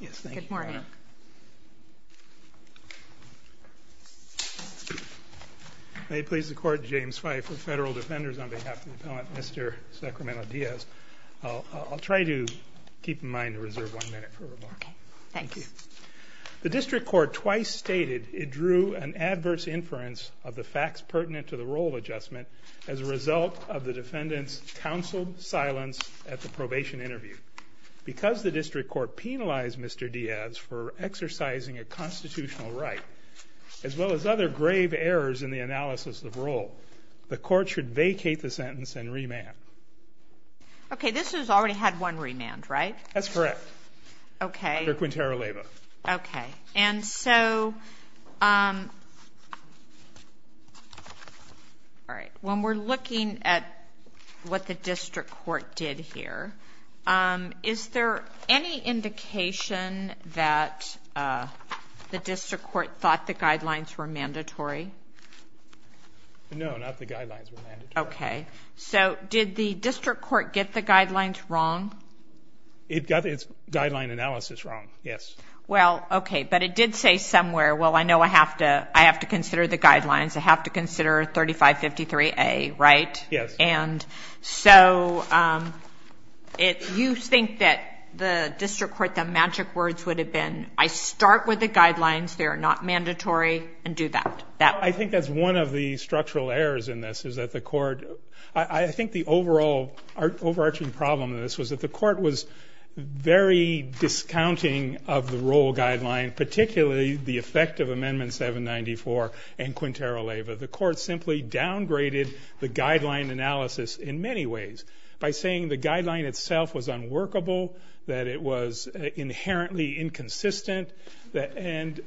Good morning. May it please the court, James Fife for Federal Defenders on behalf of Mr. Sacramento Diaz. I'll try to keep in mind to reserve one minute for rebuttal. Thank you. The District Court twice stated it drew an adverse inference of the facts pertinent to the role adjustment as a result of the defendant's counseled silence at the probation interview. Because the District Court penalized Mr. Diaz for exercising a constitutional right, as well as other grave errors in the analysis of role, the court should vacate the sentence and remand. Okay, this has already had one remand, right? That's correct. Okay. Under Quintero Leyva. Okay. And so, when we're looking at what the District Court did here, is there any indication that the District Court thought the guidelines were mandatory? No, not that the guidelines were mandatory. Okay. So, did the District Court get the guidelines wrong? It got its guideline analysis wrong, yes. Well, okay. But it did say somewhere, well, I know I have to consider the guidelines. I have to consider 3553A, right? Yes. And so, you think that the District Court, the magic words would have been, I start with the guidelines, they're not mandatory, and do that? I think that's one of the structural errors in this, is that the court, I think the overall overarching problem in this was that the court was very discounting of the role guideline, particularly the effect of Amendment 794 and Quintero Leyva. The court simply downgraded the guideline analysis in many ways, by saying the guideline itself was unworkable, that it was inherently inconsistent. And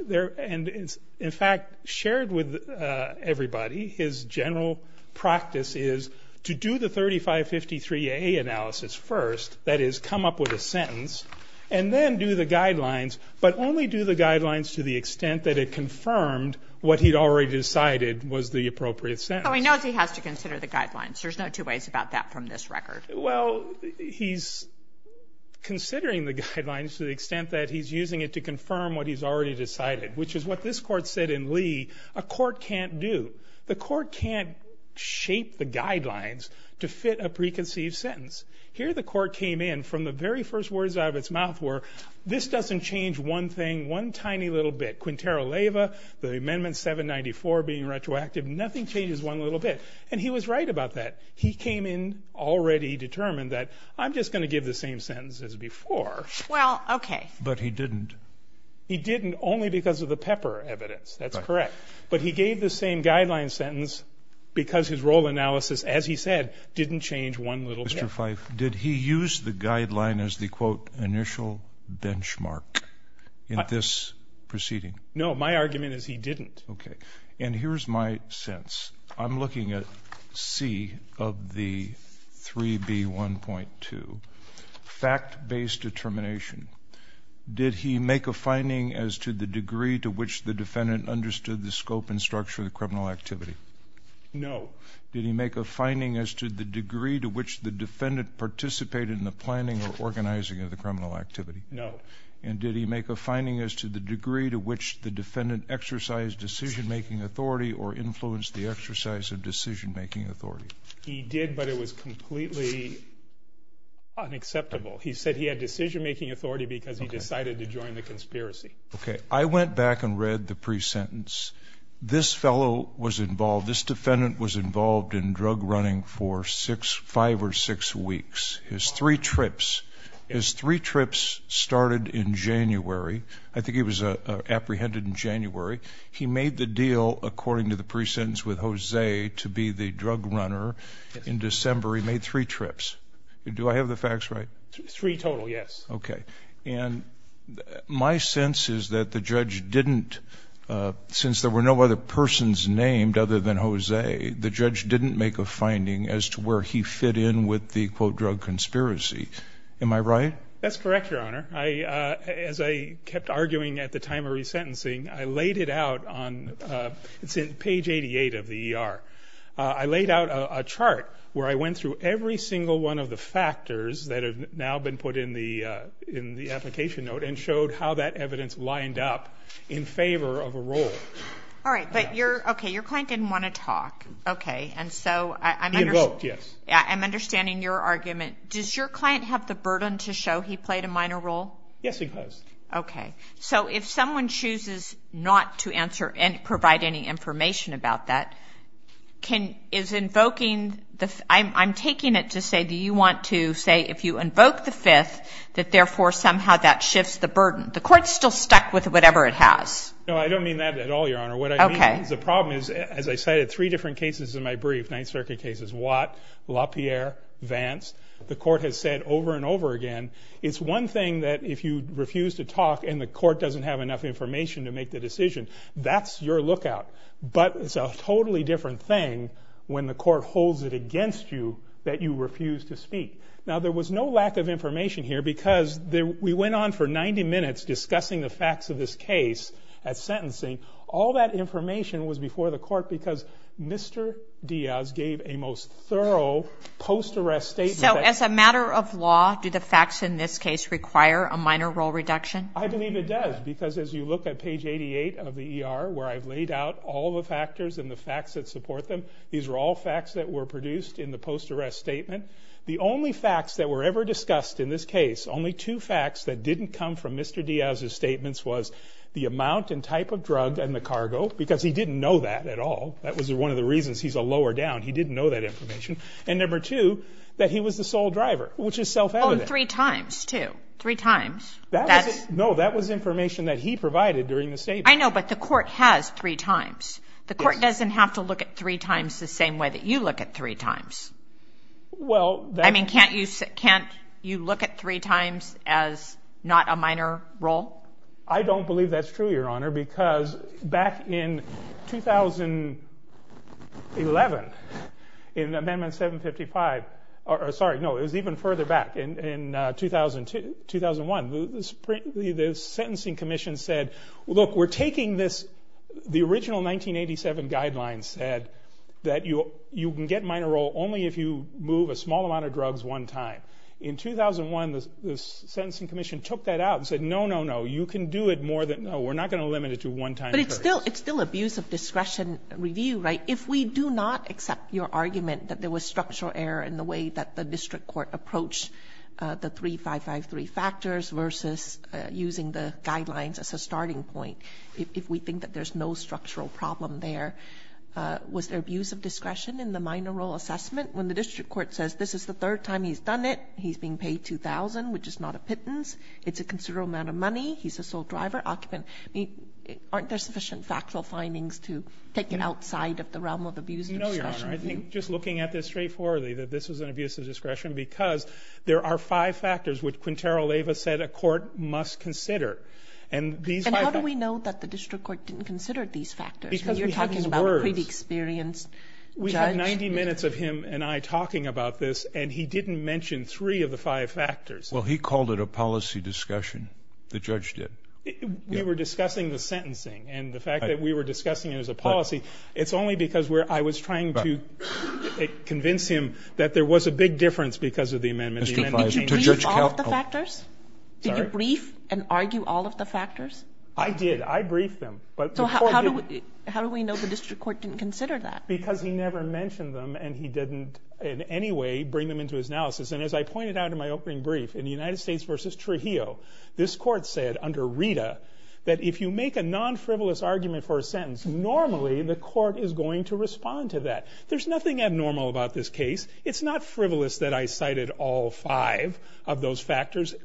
in fact, shared with everybody, his general practice is to do the 3553A analysis first, that is, come up with a sentence, and then do the guidelines, but only do the guidelines to the extent that it confirmed what he'd already decided was the appropriate sentence. So, he knows he has to consider the guidelines. There's no two ways about that from this record. Well, he's considering the guidelines to the extent that he's using it to confirm what he's already decided, which is what this court said in Lee, a court can't do. The court can't shape the guidelines to fit a preconceived sentence. Here, the court came in from the very first words out of its mouth were, this doesn't change one thing, one tiny little bit. Quintero Leyva, the Amendment 794 being retroactive, nothing changes one little bit. And he was right about that. He came in already determined that, I'm just going to give the same sentence as before. Well, okay. But he didn't. He didn't only because of the Pepper evidence. That's correct. But he gave the same guideline sentence because his role analysis, as he said, didn't change one little bit. Mr. Fife, did he use the guideline as the, quote, initial benchmark in this proceeding? No. My argument is he didn't. Okay. And here's my sense. I'm looking at C of the 3B1.2, fact-based determination. Did he make a finding as to the degree to which the defendant understood the scope and structure of the criminal activity? No. Did he make a finding as to the degree to which the defendant participated in the planning or organizing of the criminal activity? No. And did he make a finding as to the degree to which the defendant exercised decision-making authority or influenced the exercise of decision-making authority? He did, but it was completely unacceptable. He said he had decision-making authority because he decided to join the conspiracy. Okay. I went back and read the pre-sentence. This fellow was involved, this defendant was involved in drug running for five or six weeks. His three trips started in January. I think he was apprehended in January. He made the deal according to the pre-sentence with Jose to be the drug runner in December. He made three trips. Do I have the facts right? Three total, yes. Okay. And my sense is that the judge didn't, since there were no other persons named other than Jose, the judge didn't make a finding as to where he fit in with the, quote, drug conspiracy. Am I right? That's correct, Your Honor. As I kept arguing at the time of resentencing, I laid it out on page 88 of the ER. I laid out a chart where I went through every single one of the factors that have now been put in the application note and showed how that evidence lined up in favor of a role. All right. But you're, okay, your client didn't want to talk. Okay. And so I'm understanding. He invoked, yes. I'm understanding your argument. Does your client have the burden to show he played a minor role? Yes, he does. Okay. So if someone chooses not to answer and provide any information about that, can, is invoking, I'm taking it to say do you want to say if you invoke the fifth that, therefore, somehow that shifts the burden. The Court's still stuck with whatever it has. No, I don't mean that at all, Your Honor. Okay. What I mean is the problem is, as I cited three different cases in my brief, Ninth Circuit cases, Watt, LaPierre, Vance. The Court has said over and over again, it's one thing that if you refuse to talk and the Court doesn't have enough information to make the decision, that's your lookout. But it's a totally different thing when the Court holds it against you that you refuse to speak. Now, there was no lack of information here because we went on for 90 minutes discussing the facts of this case at sentencing. All that information was before the Court because Mr. Diaz gave a most thorough post-arrest statement. So as a matter of law, do the facts in this case require a minor role reduction? I believe it does because as you look at page 88 of the ER where I've laid out all the factors and the facts that support them, these are all facts that were produced in the post-arrest statement. The only facts that were ever discussed in this case, only two facts that didn't come from Mr. Diaz's statements was the amount and type of drug and the cargo, because he didn't know that at all. That was one of the reasons he's a lower down. He didn't know that information. And number two, that he was the sole driver, which is self-evident. Oh, and three times, too. Three times. No, that was information that he provided during the statement. I know, but the Court has three times. The Court doesn't have to look at three times the same way that you look at three times. I mean, can't you look at three times as not a minor role? I don't believe that's true, Your Honor, because back in 2011, in Amendment 755, or sorry, no, it was even further back in 2001, the Sentencing Commission said, well, look, we're taking this, the original 1987 guidelines said that you can get minor role only if you move a small amount of drugs one time. In 2001, the Sentencing Commission took that out and said, no, no, no, you can do it more than, no, we're not going to limit it to one time. But it's still abuse of discretion review, right? If we do not accept your argument that there was structural error in the way that the District versus using the guidelines as a starting point, if we think that there's no structural problem there, was there abuse of discretion in the minor role assessment? When the District Court says this is the third time he's done it, he's being paid $2,000, which is not a pittance, it's a considerable amount of money, he's a sole driver, occupant, aren't there sufficient factual findings to take it outside of the realm of abuse of discretion? No, Your Honor. I think just looking at this straightforwardly, that this was an abuse of discretion because there are five factors which Quintero Leyva said a court must consider. And these five factors... And how do we know that the District Court didn't consider these factors? Because we have these words. You're talking about a pre-experienced judge. We had 90 minutes of him and I talking about this, and he didn't mention three of the five factors. Well, he called it a policy discussion. The judge did. We were discussing the sentencing, and the fact that we were discussing it as a policy, it's only because I was trying to convince him that there was a big difference because of the amendment. Did you brief all of the factors? Did you brief and argue all of the factors? I did. I briefed them. So how do we know the District Court didn't consider that? Because he never mentioned them and he didn't in any way bring them into his analysis. And as I pointed out in my opening brief, in the United States v. Trujillo, this Court said under Rita that if you make a non-frivolous argument for a sentence, normally the Court is going to respond to that. There's nothing abnormal about this case. It's not frivolous that I cited all five of those factors.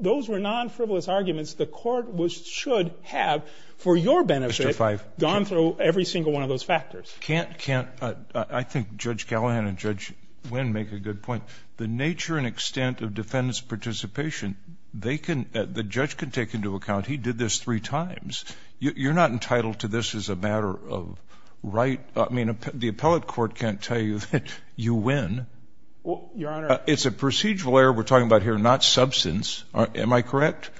Those were non-frivolous arguments the Court should have, for your benefit, gone through every single one of those factors. I think Judge Callahan and Judge Wynn make a good point. The nature and extent of defendant's participation, the judge can take into account he did this three times. You're not entitled to this as a matter of right. I mean, the appellate court can't tell you that you win. Your Honor. It's a procedural error we're talking about here, not substance. Am I correct?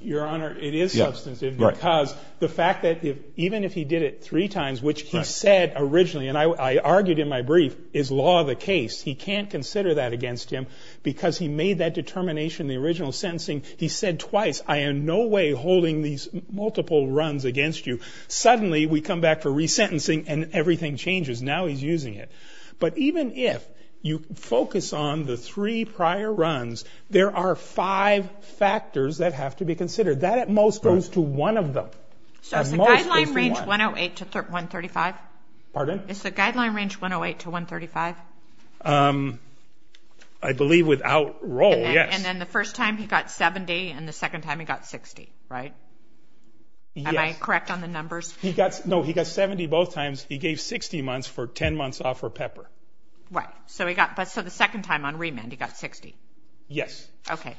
Your Honor, it is substantive because the fact that even if he did it three times, which he said originally, and I argued in my brief, is law of the case, he can't consider that against him because he made that determination in the original sentencing. He said twice, I have no way holding these multiple runs against you. Suddenly we come back for resentencing and everything changes. Now he's using it. But even if you focus on the three prior runs, there are five factors that have to be considered. That at most goes to one of them. At most goes to one. So is the guideline range 108 to 135? Pardon? Is the guideline range 108 to 135? I believe without roll, yes. And then the first time he got 70 and the second time he got 60, right? Yes. Am I correct on the numbers? No, he got 70 both times. He gave 60 months for 10 months off for Pepper. Right. So the second time on remand he got 60? Yes. Okay.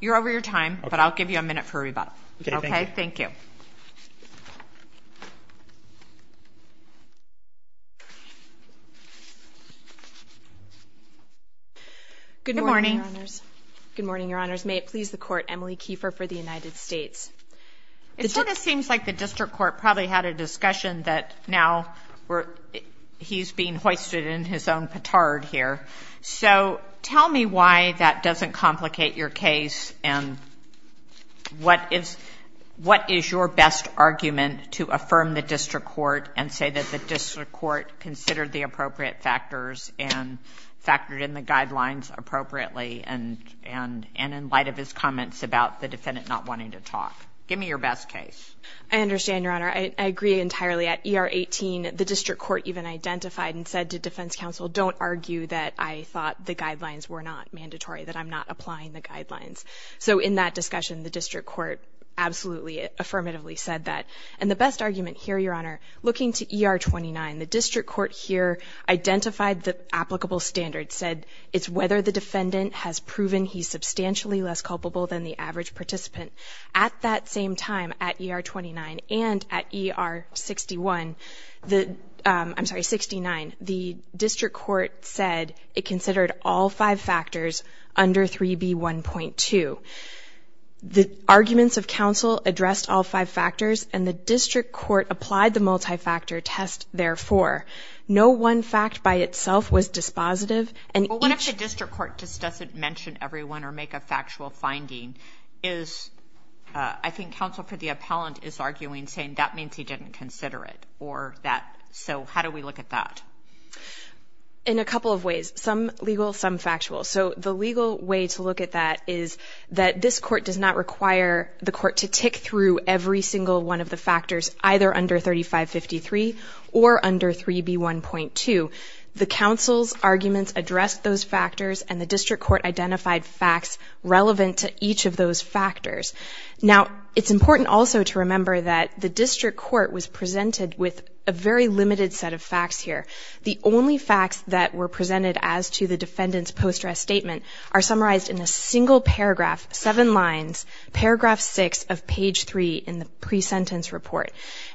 You're over your time, but I'll give you a minute for rebuttal. Okay, thank you. Okay, thank you. Okay. Good morning, Your Honors. Good morning, Your Honors. May it please the Court, Emily Kiefer for the United States. It sort of seems like the District Court probably had a discussion that now he's being hoisted in his own petard here. So tell me why that doesn't complicate your case and what is your best argument to affirm the District Court and say that the District Court considered the appropriate factors and factored in the guidelines appropriately and in light of his comments about the defendant not wanting to talk. Give me your best case. I understand, Your Honor. I agree entirely. At ER 18, the District Court even identified and said to Defense Counsel, don't argue that I thought the guidelines were not mandatory, that I'm not applying the guidelines. So in that discussion, the District Court absolutely affirmatively said that. And the best argument here, Your Honor, looking to ER 29, the District Court here identified the applicable standards, said it's whether the defendant has proven he's substantially less culpable than the average participant. At that same time, at ER 29 and at ER 61, I'm sorry, 69, the District Court said it considered all five factors under 3B1.2. The arguments of counsel addressed all five factors, and the District Court applied the multi-factor test therefore. No one fact by itself was dispositive. Well, what if the District Court just doesn't mention everyone or make a factual finding? I think counsel for the appellant is arguing, saying that means he didn't consider it. So how do we look at that? In a couple of ways, some legal, some factual. So the legal way to look at that is that this court does not require the court to tick through every single one of the factors, either under 3553 or under 3B1.2. The counsel's arguments addressed those factors, and the District Court identified facts relevant to each of those factors. Now, it's important also to remember that the District Court was presented with a very limited set of facts here. The only facts that were presented as to the defendant's post-dress statement are summarized in a single paragraph, seven lines, paragraph 6 of page 3 in the pre-sentence report.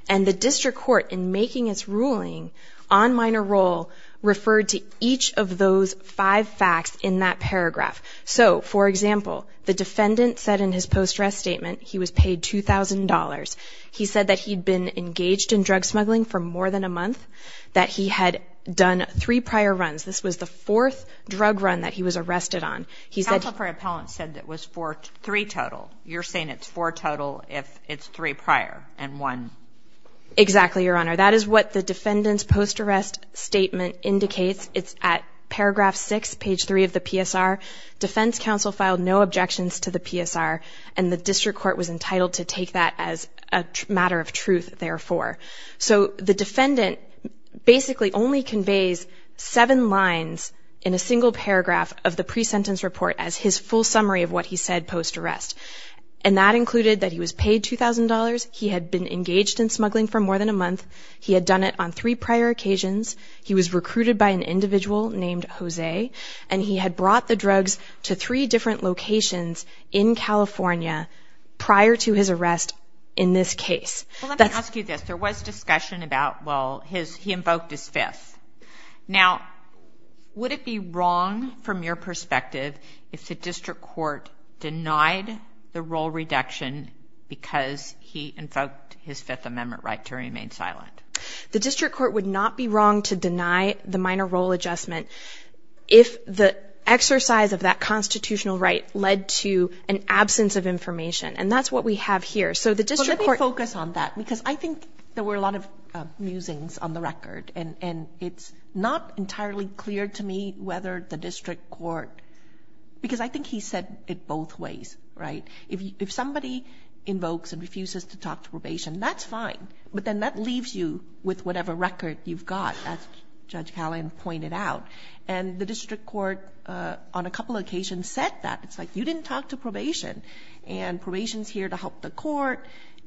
And the District Court, in making its ruling on minor role, referred to each of those five facts in that paragraph. So, for example, the defendant said in his post-dress statement he was paid $2,000. He said that he'd been engaged in drug smuggling for more than a month, that he had done three prior runs. This was the fourth drug run that he was arrested on. Counsel for Appellant said it was three total. You're saying it's four total if it's three prior and one. Exactly, Your Honor. That is what the defendant's post-dress statement indicates. It's at paragraph 6, page 3 of the PSR. Defense counsel filed no objections to the PSR, and the District Court was entitled to take that as a matter of truth, therefore. So the defendant basically only conveys seven lines in a single paragraph of the pre-sentence report as his full summary of what he said post-arrest. And that included that he was paid $2,000, he had been engaged in smuggling for more than a month, he had done it on three prior occasions, he was recruited by an individual named Jose, and he had brought the drugs to three different locations in California prior to his arrest in this case. Well, let me ask you this. There was discussion about, well, he invoked his fifth. Now, would it be wrong, from your perspective, if the District Court denied the role reduction because he invoked his Fifth Amendment right to remain silent? The District Court would not be wrong to deny the minor role adjustment if the exercise of that constitutional right led to an absence of information, and that's what we have here. Let me focus on that because I think there were a lot of musings on the record, and it's not entirely clear to me whether the District Court, because I think he said it both ways, right? If somebody invokes and refuses to talk to probation, that's fine, but then that leaves you with whatever record you've got, as Judge Callahan pointed out. And the District Court, on a couple of occasions, said that. It's like, you didn't talk to probation, and probation's here to help the court,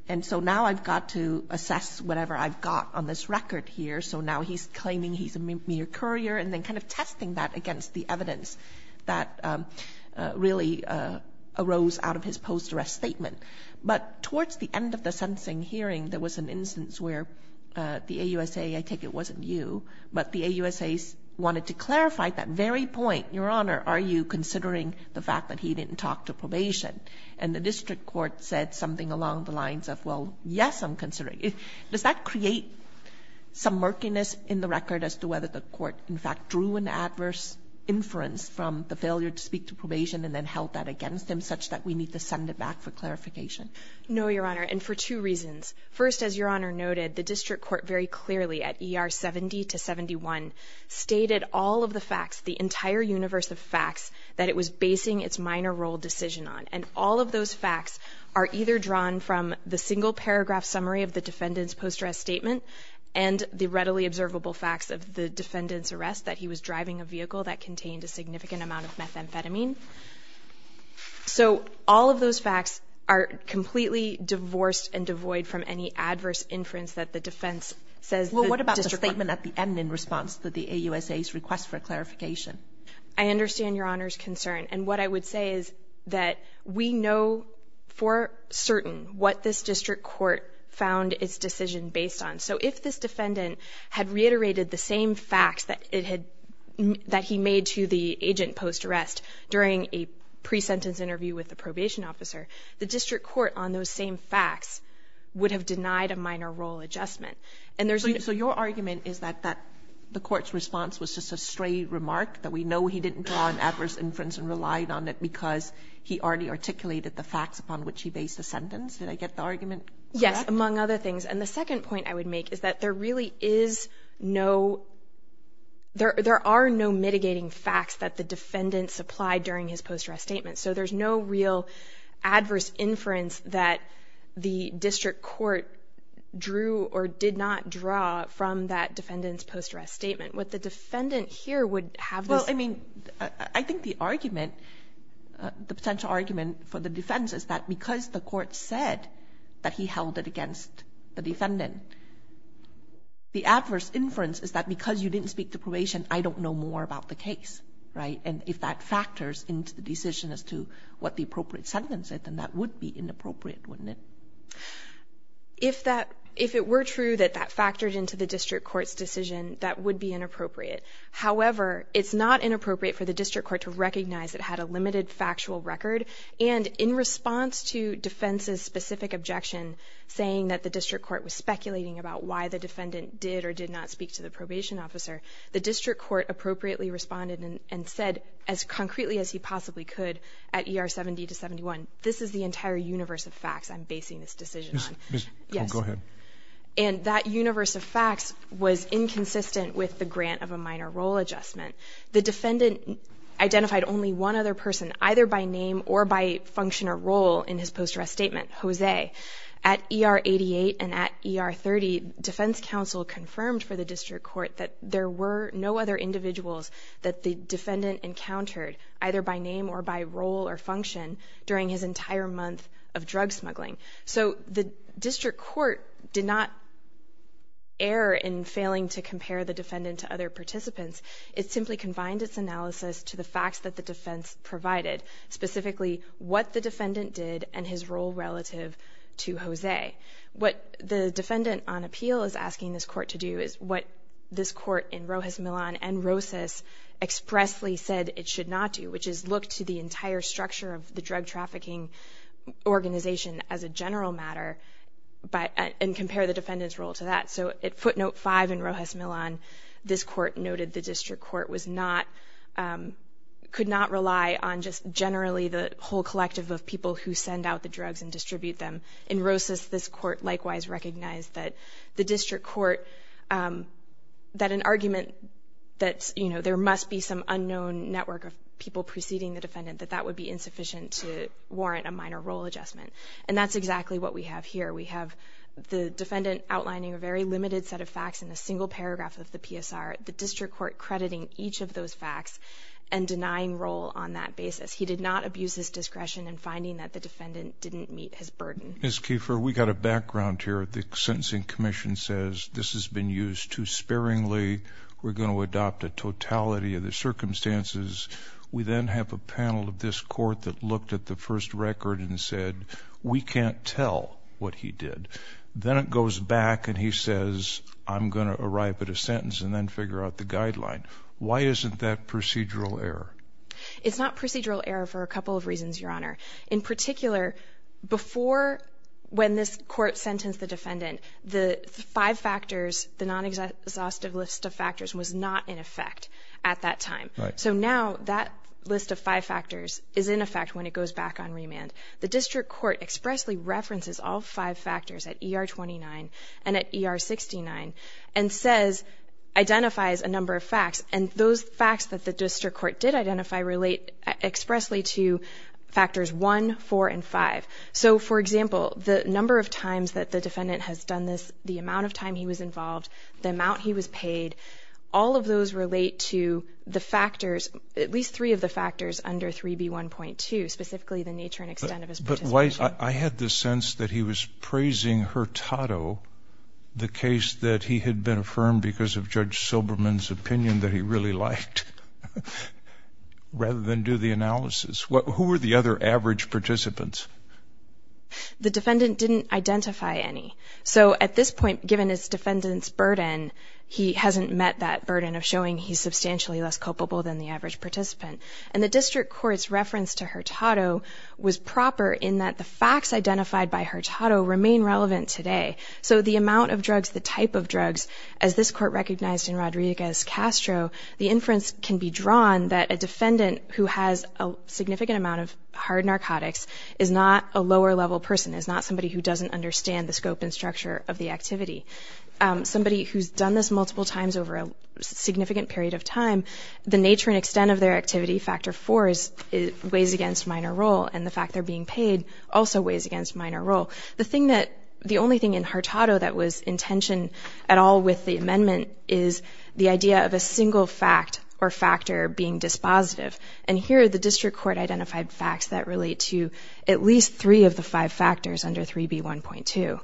and so now I've got to assess whatever I've got on this record here, so now he's claiming he's a media courier and then kind of testing that against the evidence that really arose out of his post-arrest statement. But towards the end of the sentencing hearing, there was an instance where the AUSA, I take it wasn't you, but the AUSA wanted to clarify that very point, Your Honor, are you considering the fact that he didn't talk to probation? And the District Court said something along the lines of, well, yes, I'm considering it. Does that create some murkiness in the record as to whether the court, in fact, drew an adverse inference from the failure to speak to probation and then held that against him such that we need to send it back for clarification? No, Your Honor, and for two reasons. First, as Your Honor noted, the District Court very clearly at ER 70 to 71 stated all of the facts, the entire universe of facts, that it was basing its minor role decision on, and all of those facts are either drawn from the single-paragraph summary of the defendant's post-arrest statement and the readily observable facts of the defendant's arrest, that he was driving a vehicle that contained a significant amount of methamphetamine. So all of those facts are completely divorced and devoid from any adverse inference that the defense says the District Court. Is there an argument at the end in response to the AUSA's request for clarification? I understand Your Honor's concern, and what I would say is that we know for certain what this District Court found its decision based on. So if this defendant had reiterated the same facts that he made to the agent post-arrest during a pre-sentence interview with the probation officer, the District Court on those same facts would have denied a minor role adjustment. So your argument is that the court's response was just a stray remark, that we know he didn't draw an adverse inference and relied on it because he already articulated the facts upon which he based the sentence? Did I get the argument correct? Yes, among other things. And the second point I would make is that there really is no – there are no mitigating facts that the defendant supplied during his post-arrest statement. So there's no real adverse inference that the District Court drew or did not draw from that defendant's post-arrest statement. What the defendant here would have was— Well, I mean, I think the argument, the potential argument for the defense, is that because the court said that he held it against the defendant, the adverse inference is that because you didn't speak to probation, I don't know more about the case, right? And if that factors into the decision as to what the appropriate sentence is, then that would be inappropriate, wouldn't it? If it were true that that factored into the District Court's decision, that would be inappropriate. However, it's not inappropriate for the District Court to recognize it had a limited factual record. And in response to defense's specific objection, saying that the District Court was speculating about why the defendant did or did not speak to the probation officer, the District Court appropriately responded and said, as concretely as he possibly could, at ER 70 to 71, this is the entire universe of facts I'm basing this decision on. Go ahead. And that universe of facts was inconsistent with the grant of a minor role adjustment. The defendant identified only one other person, either by name or by function or role in his post-arrest statement, Jose. At ER 88 and at ER 30, the defense counsel confirmed for the District Court that there were no other individuals that the defendant encountered, either by name or by role or function, during his entire month of drug smuggling. So the District Court did not err in failing to compare the defendant to other participants. It simply combined its analysis to the facts that the defense provided, specifically what the defendant did and his role relative to Jose. What the defendant on appeal is asking this court to do is what this court in Rojas, Milan and Rosas expressly said it should not do, which is look to the entire structure of the drug trafficking organization as a general matter and compare the defendant's role to that. So at footnote 5 in Rojas, Milan, this court noted the District Court was not, could not rely on just generally the whole collective of people who send out the drugs and distribute them. In Rosas, this court likewise recognized that the District Court, that an argument that there must be some unknown network of people preceding the defendant, that that would be insufficient to warrant a minor role adjustment. And that's exactly what we have here. We have the defendant outlining a very limited set of facts in a single paragraph of the PSR, the District Court crediting each of those facts and denying role on that basis. He did not abuse his discretion in finding that the defendant didn't meet his burden. Ms. Kiefer, we got a background here. The Sentencing Commission says this has been used too sparingly. We're going to adopt a totality of the circumstances. We then have a panel of this court that looked at the first record and said, we can't tell what he did. Then it goes back and he says, I'm going to arrive at a sentence and then figure out the guideline. Why isn't that procedural error? It's not procedural error for a couple of reasons, Your Honor. In particular, before when this court sentenced the defendant, the five factors, the non-exhaustive list of factors was not in effect at that time. So now that list of five factors is in effect when it goes back on remand. The District Court expressly references all five factors at ER 29 and at ER 69 and identifies a number of facts. And those facts that the District Court did identify relate expressly to factors 1, 4, and 5. So, for example, the number of times that the defendant has done this, the amount of time he was involved, the amount he was paid, all of those relate to the factors, at least three of the factors under 3B1.2, specifically the nature and extent of his participation. I had the sense that he was praising Hurtado, the case that he had been affirmed because of Judge Silberman's opinion that he really liked, rather than do the analysis. Who were the other average participants? The defendant didn't identify any. So at this point, given his defendant's burden, he hasn't met that burden of showing he's substantially less culpable than the average participant. And the District Court's reference to Hurtado was proper in that the facts identified by Hurtado remain relevant today. So the amount of drugs, the type of drugs, as this Court recognized in Rodriguez-Castro, the inference can be drawn that a defendant who has a significant amount of hard narcotics is not a lower-level person, is not somebody who doesn't understand the scope and structure of the activity. The nature and extent of their activity, factor four, weighs against minor role, and the fact they're being paid also weighs against minor role. The only thing in Hurtado that was in tension at all with the amendment is the idea of a single fact or factor being dispositive. And here, the District Court identified facts that relate to at least three of the five factors under 3B1.2.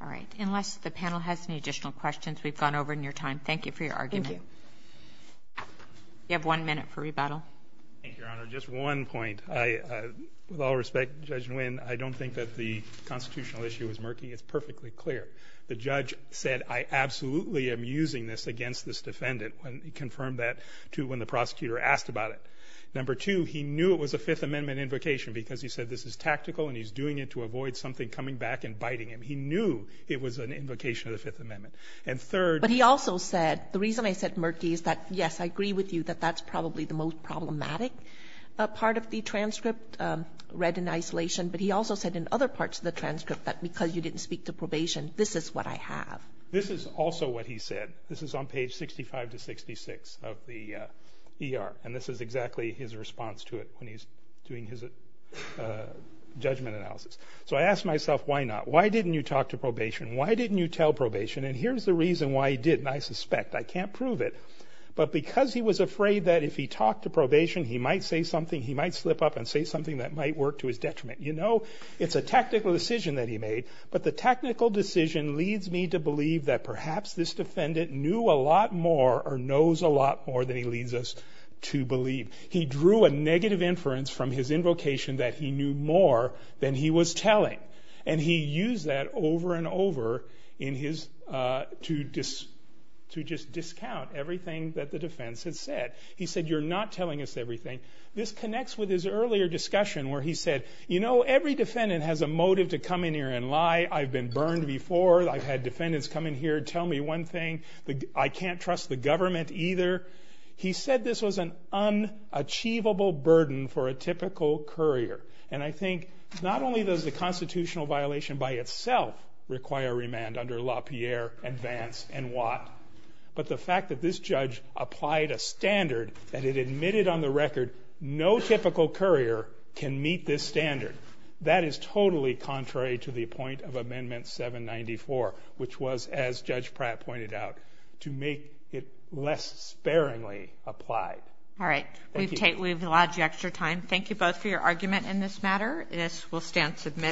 All right. Unless the panel has any additional questions, we've gone over your time. Thank you for your argument. Thank you. You have one minute for rebuttal. Thank you, Your Honor. Just one point. With all respect, Judge Nguyen, I don't think that the constitutional issue is murky. It's perfectly clear. The judge said, I absolutely am using this against this defendant when he confirmed that to when the prosecutor asked about it. Number two, he knew it was a Fifth Amendment invocation because he said this is tactical and he's doing it to avoid something coming back and biting him. He knew it was an invocation of the Fifth Amendment. And third. But he also said, the reason I said murky is that, yes, I agree with you, that that's probably the most problematic part of the transcript read in isolation. But he also said in other parts of the transcript that because you didn't speak to probation, this is what I have. This is also what he said. This is on page 65 to 66 of the ER. And this is exactly his response to it when he's doing his judgment analysis. So I asked myself, why not? Why didn't you talk to probation? Why didn't you tell probation? And here's the reason why he didn't, I suspect. I can't prove it. But because he was afraid that if he talked to probation, he might say something, he might slip up and say something that might work to his detriment. You know, it's a tactical decision that he made. But the technical decision leads me to believe that perhaps this defendant knew a lot more or knows a lot more than he leads us to believe. He drew a negative inference from his invocation that he knew more than he was telling. And he used that over and over to just discount everything that the defense had said. He said, you're not telling us everything. This connects with his earlier discussion where he said, you know, every defendant has a motive to come in here and lie. I've been burned before. I've had defendants come in here and tell me one thing. I can't trust the government either. He said this was an unachievable burden for a typical courier. And I think not only does the constitutional violation by itself require remand under LaPierre, Advance, and Watt, but the fact that this judge applied a standard that it admitted on the record, no typical courier can meet this standard. That is totally contrary to the point of Amendment 794, which was, as Judge Pratt pointed out, to make it less sparingly applied. All right. We've allowed you extra time. Thank you both for your argument in this matter. This will stand submitted.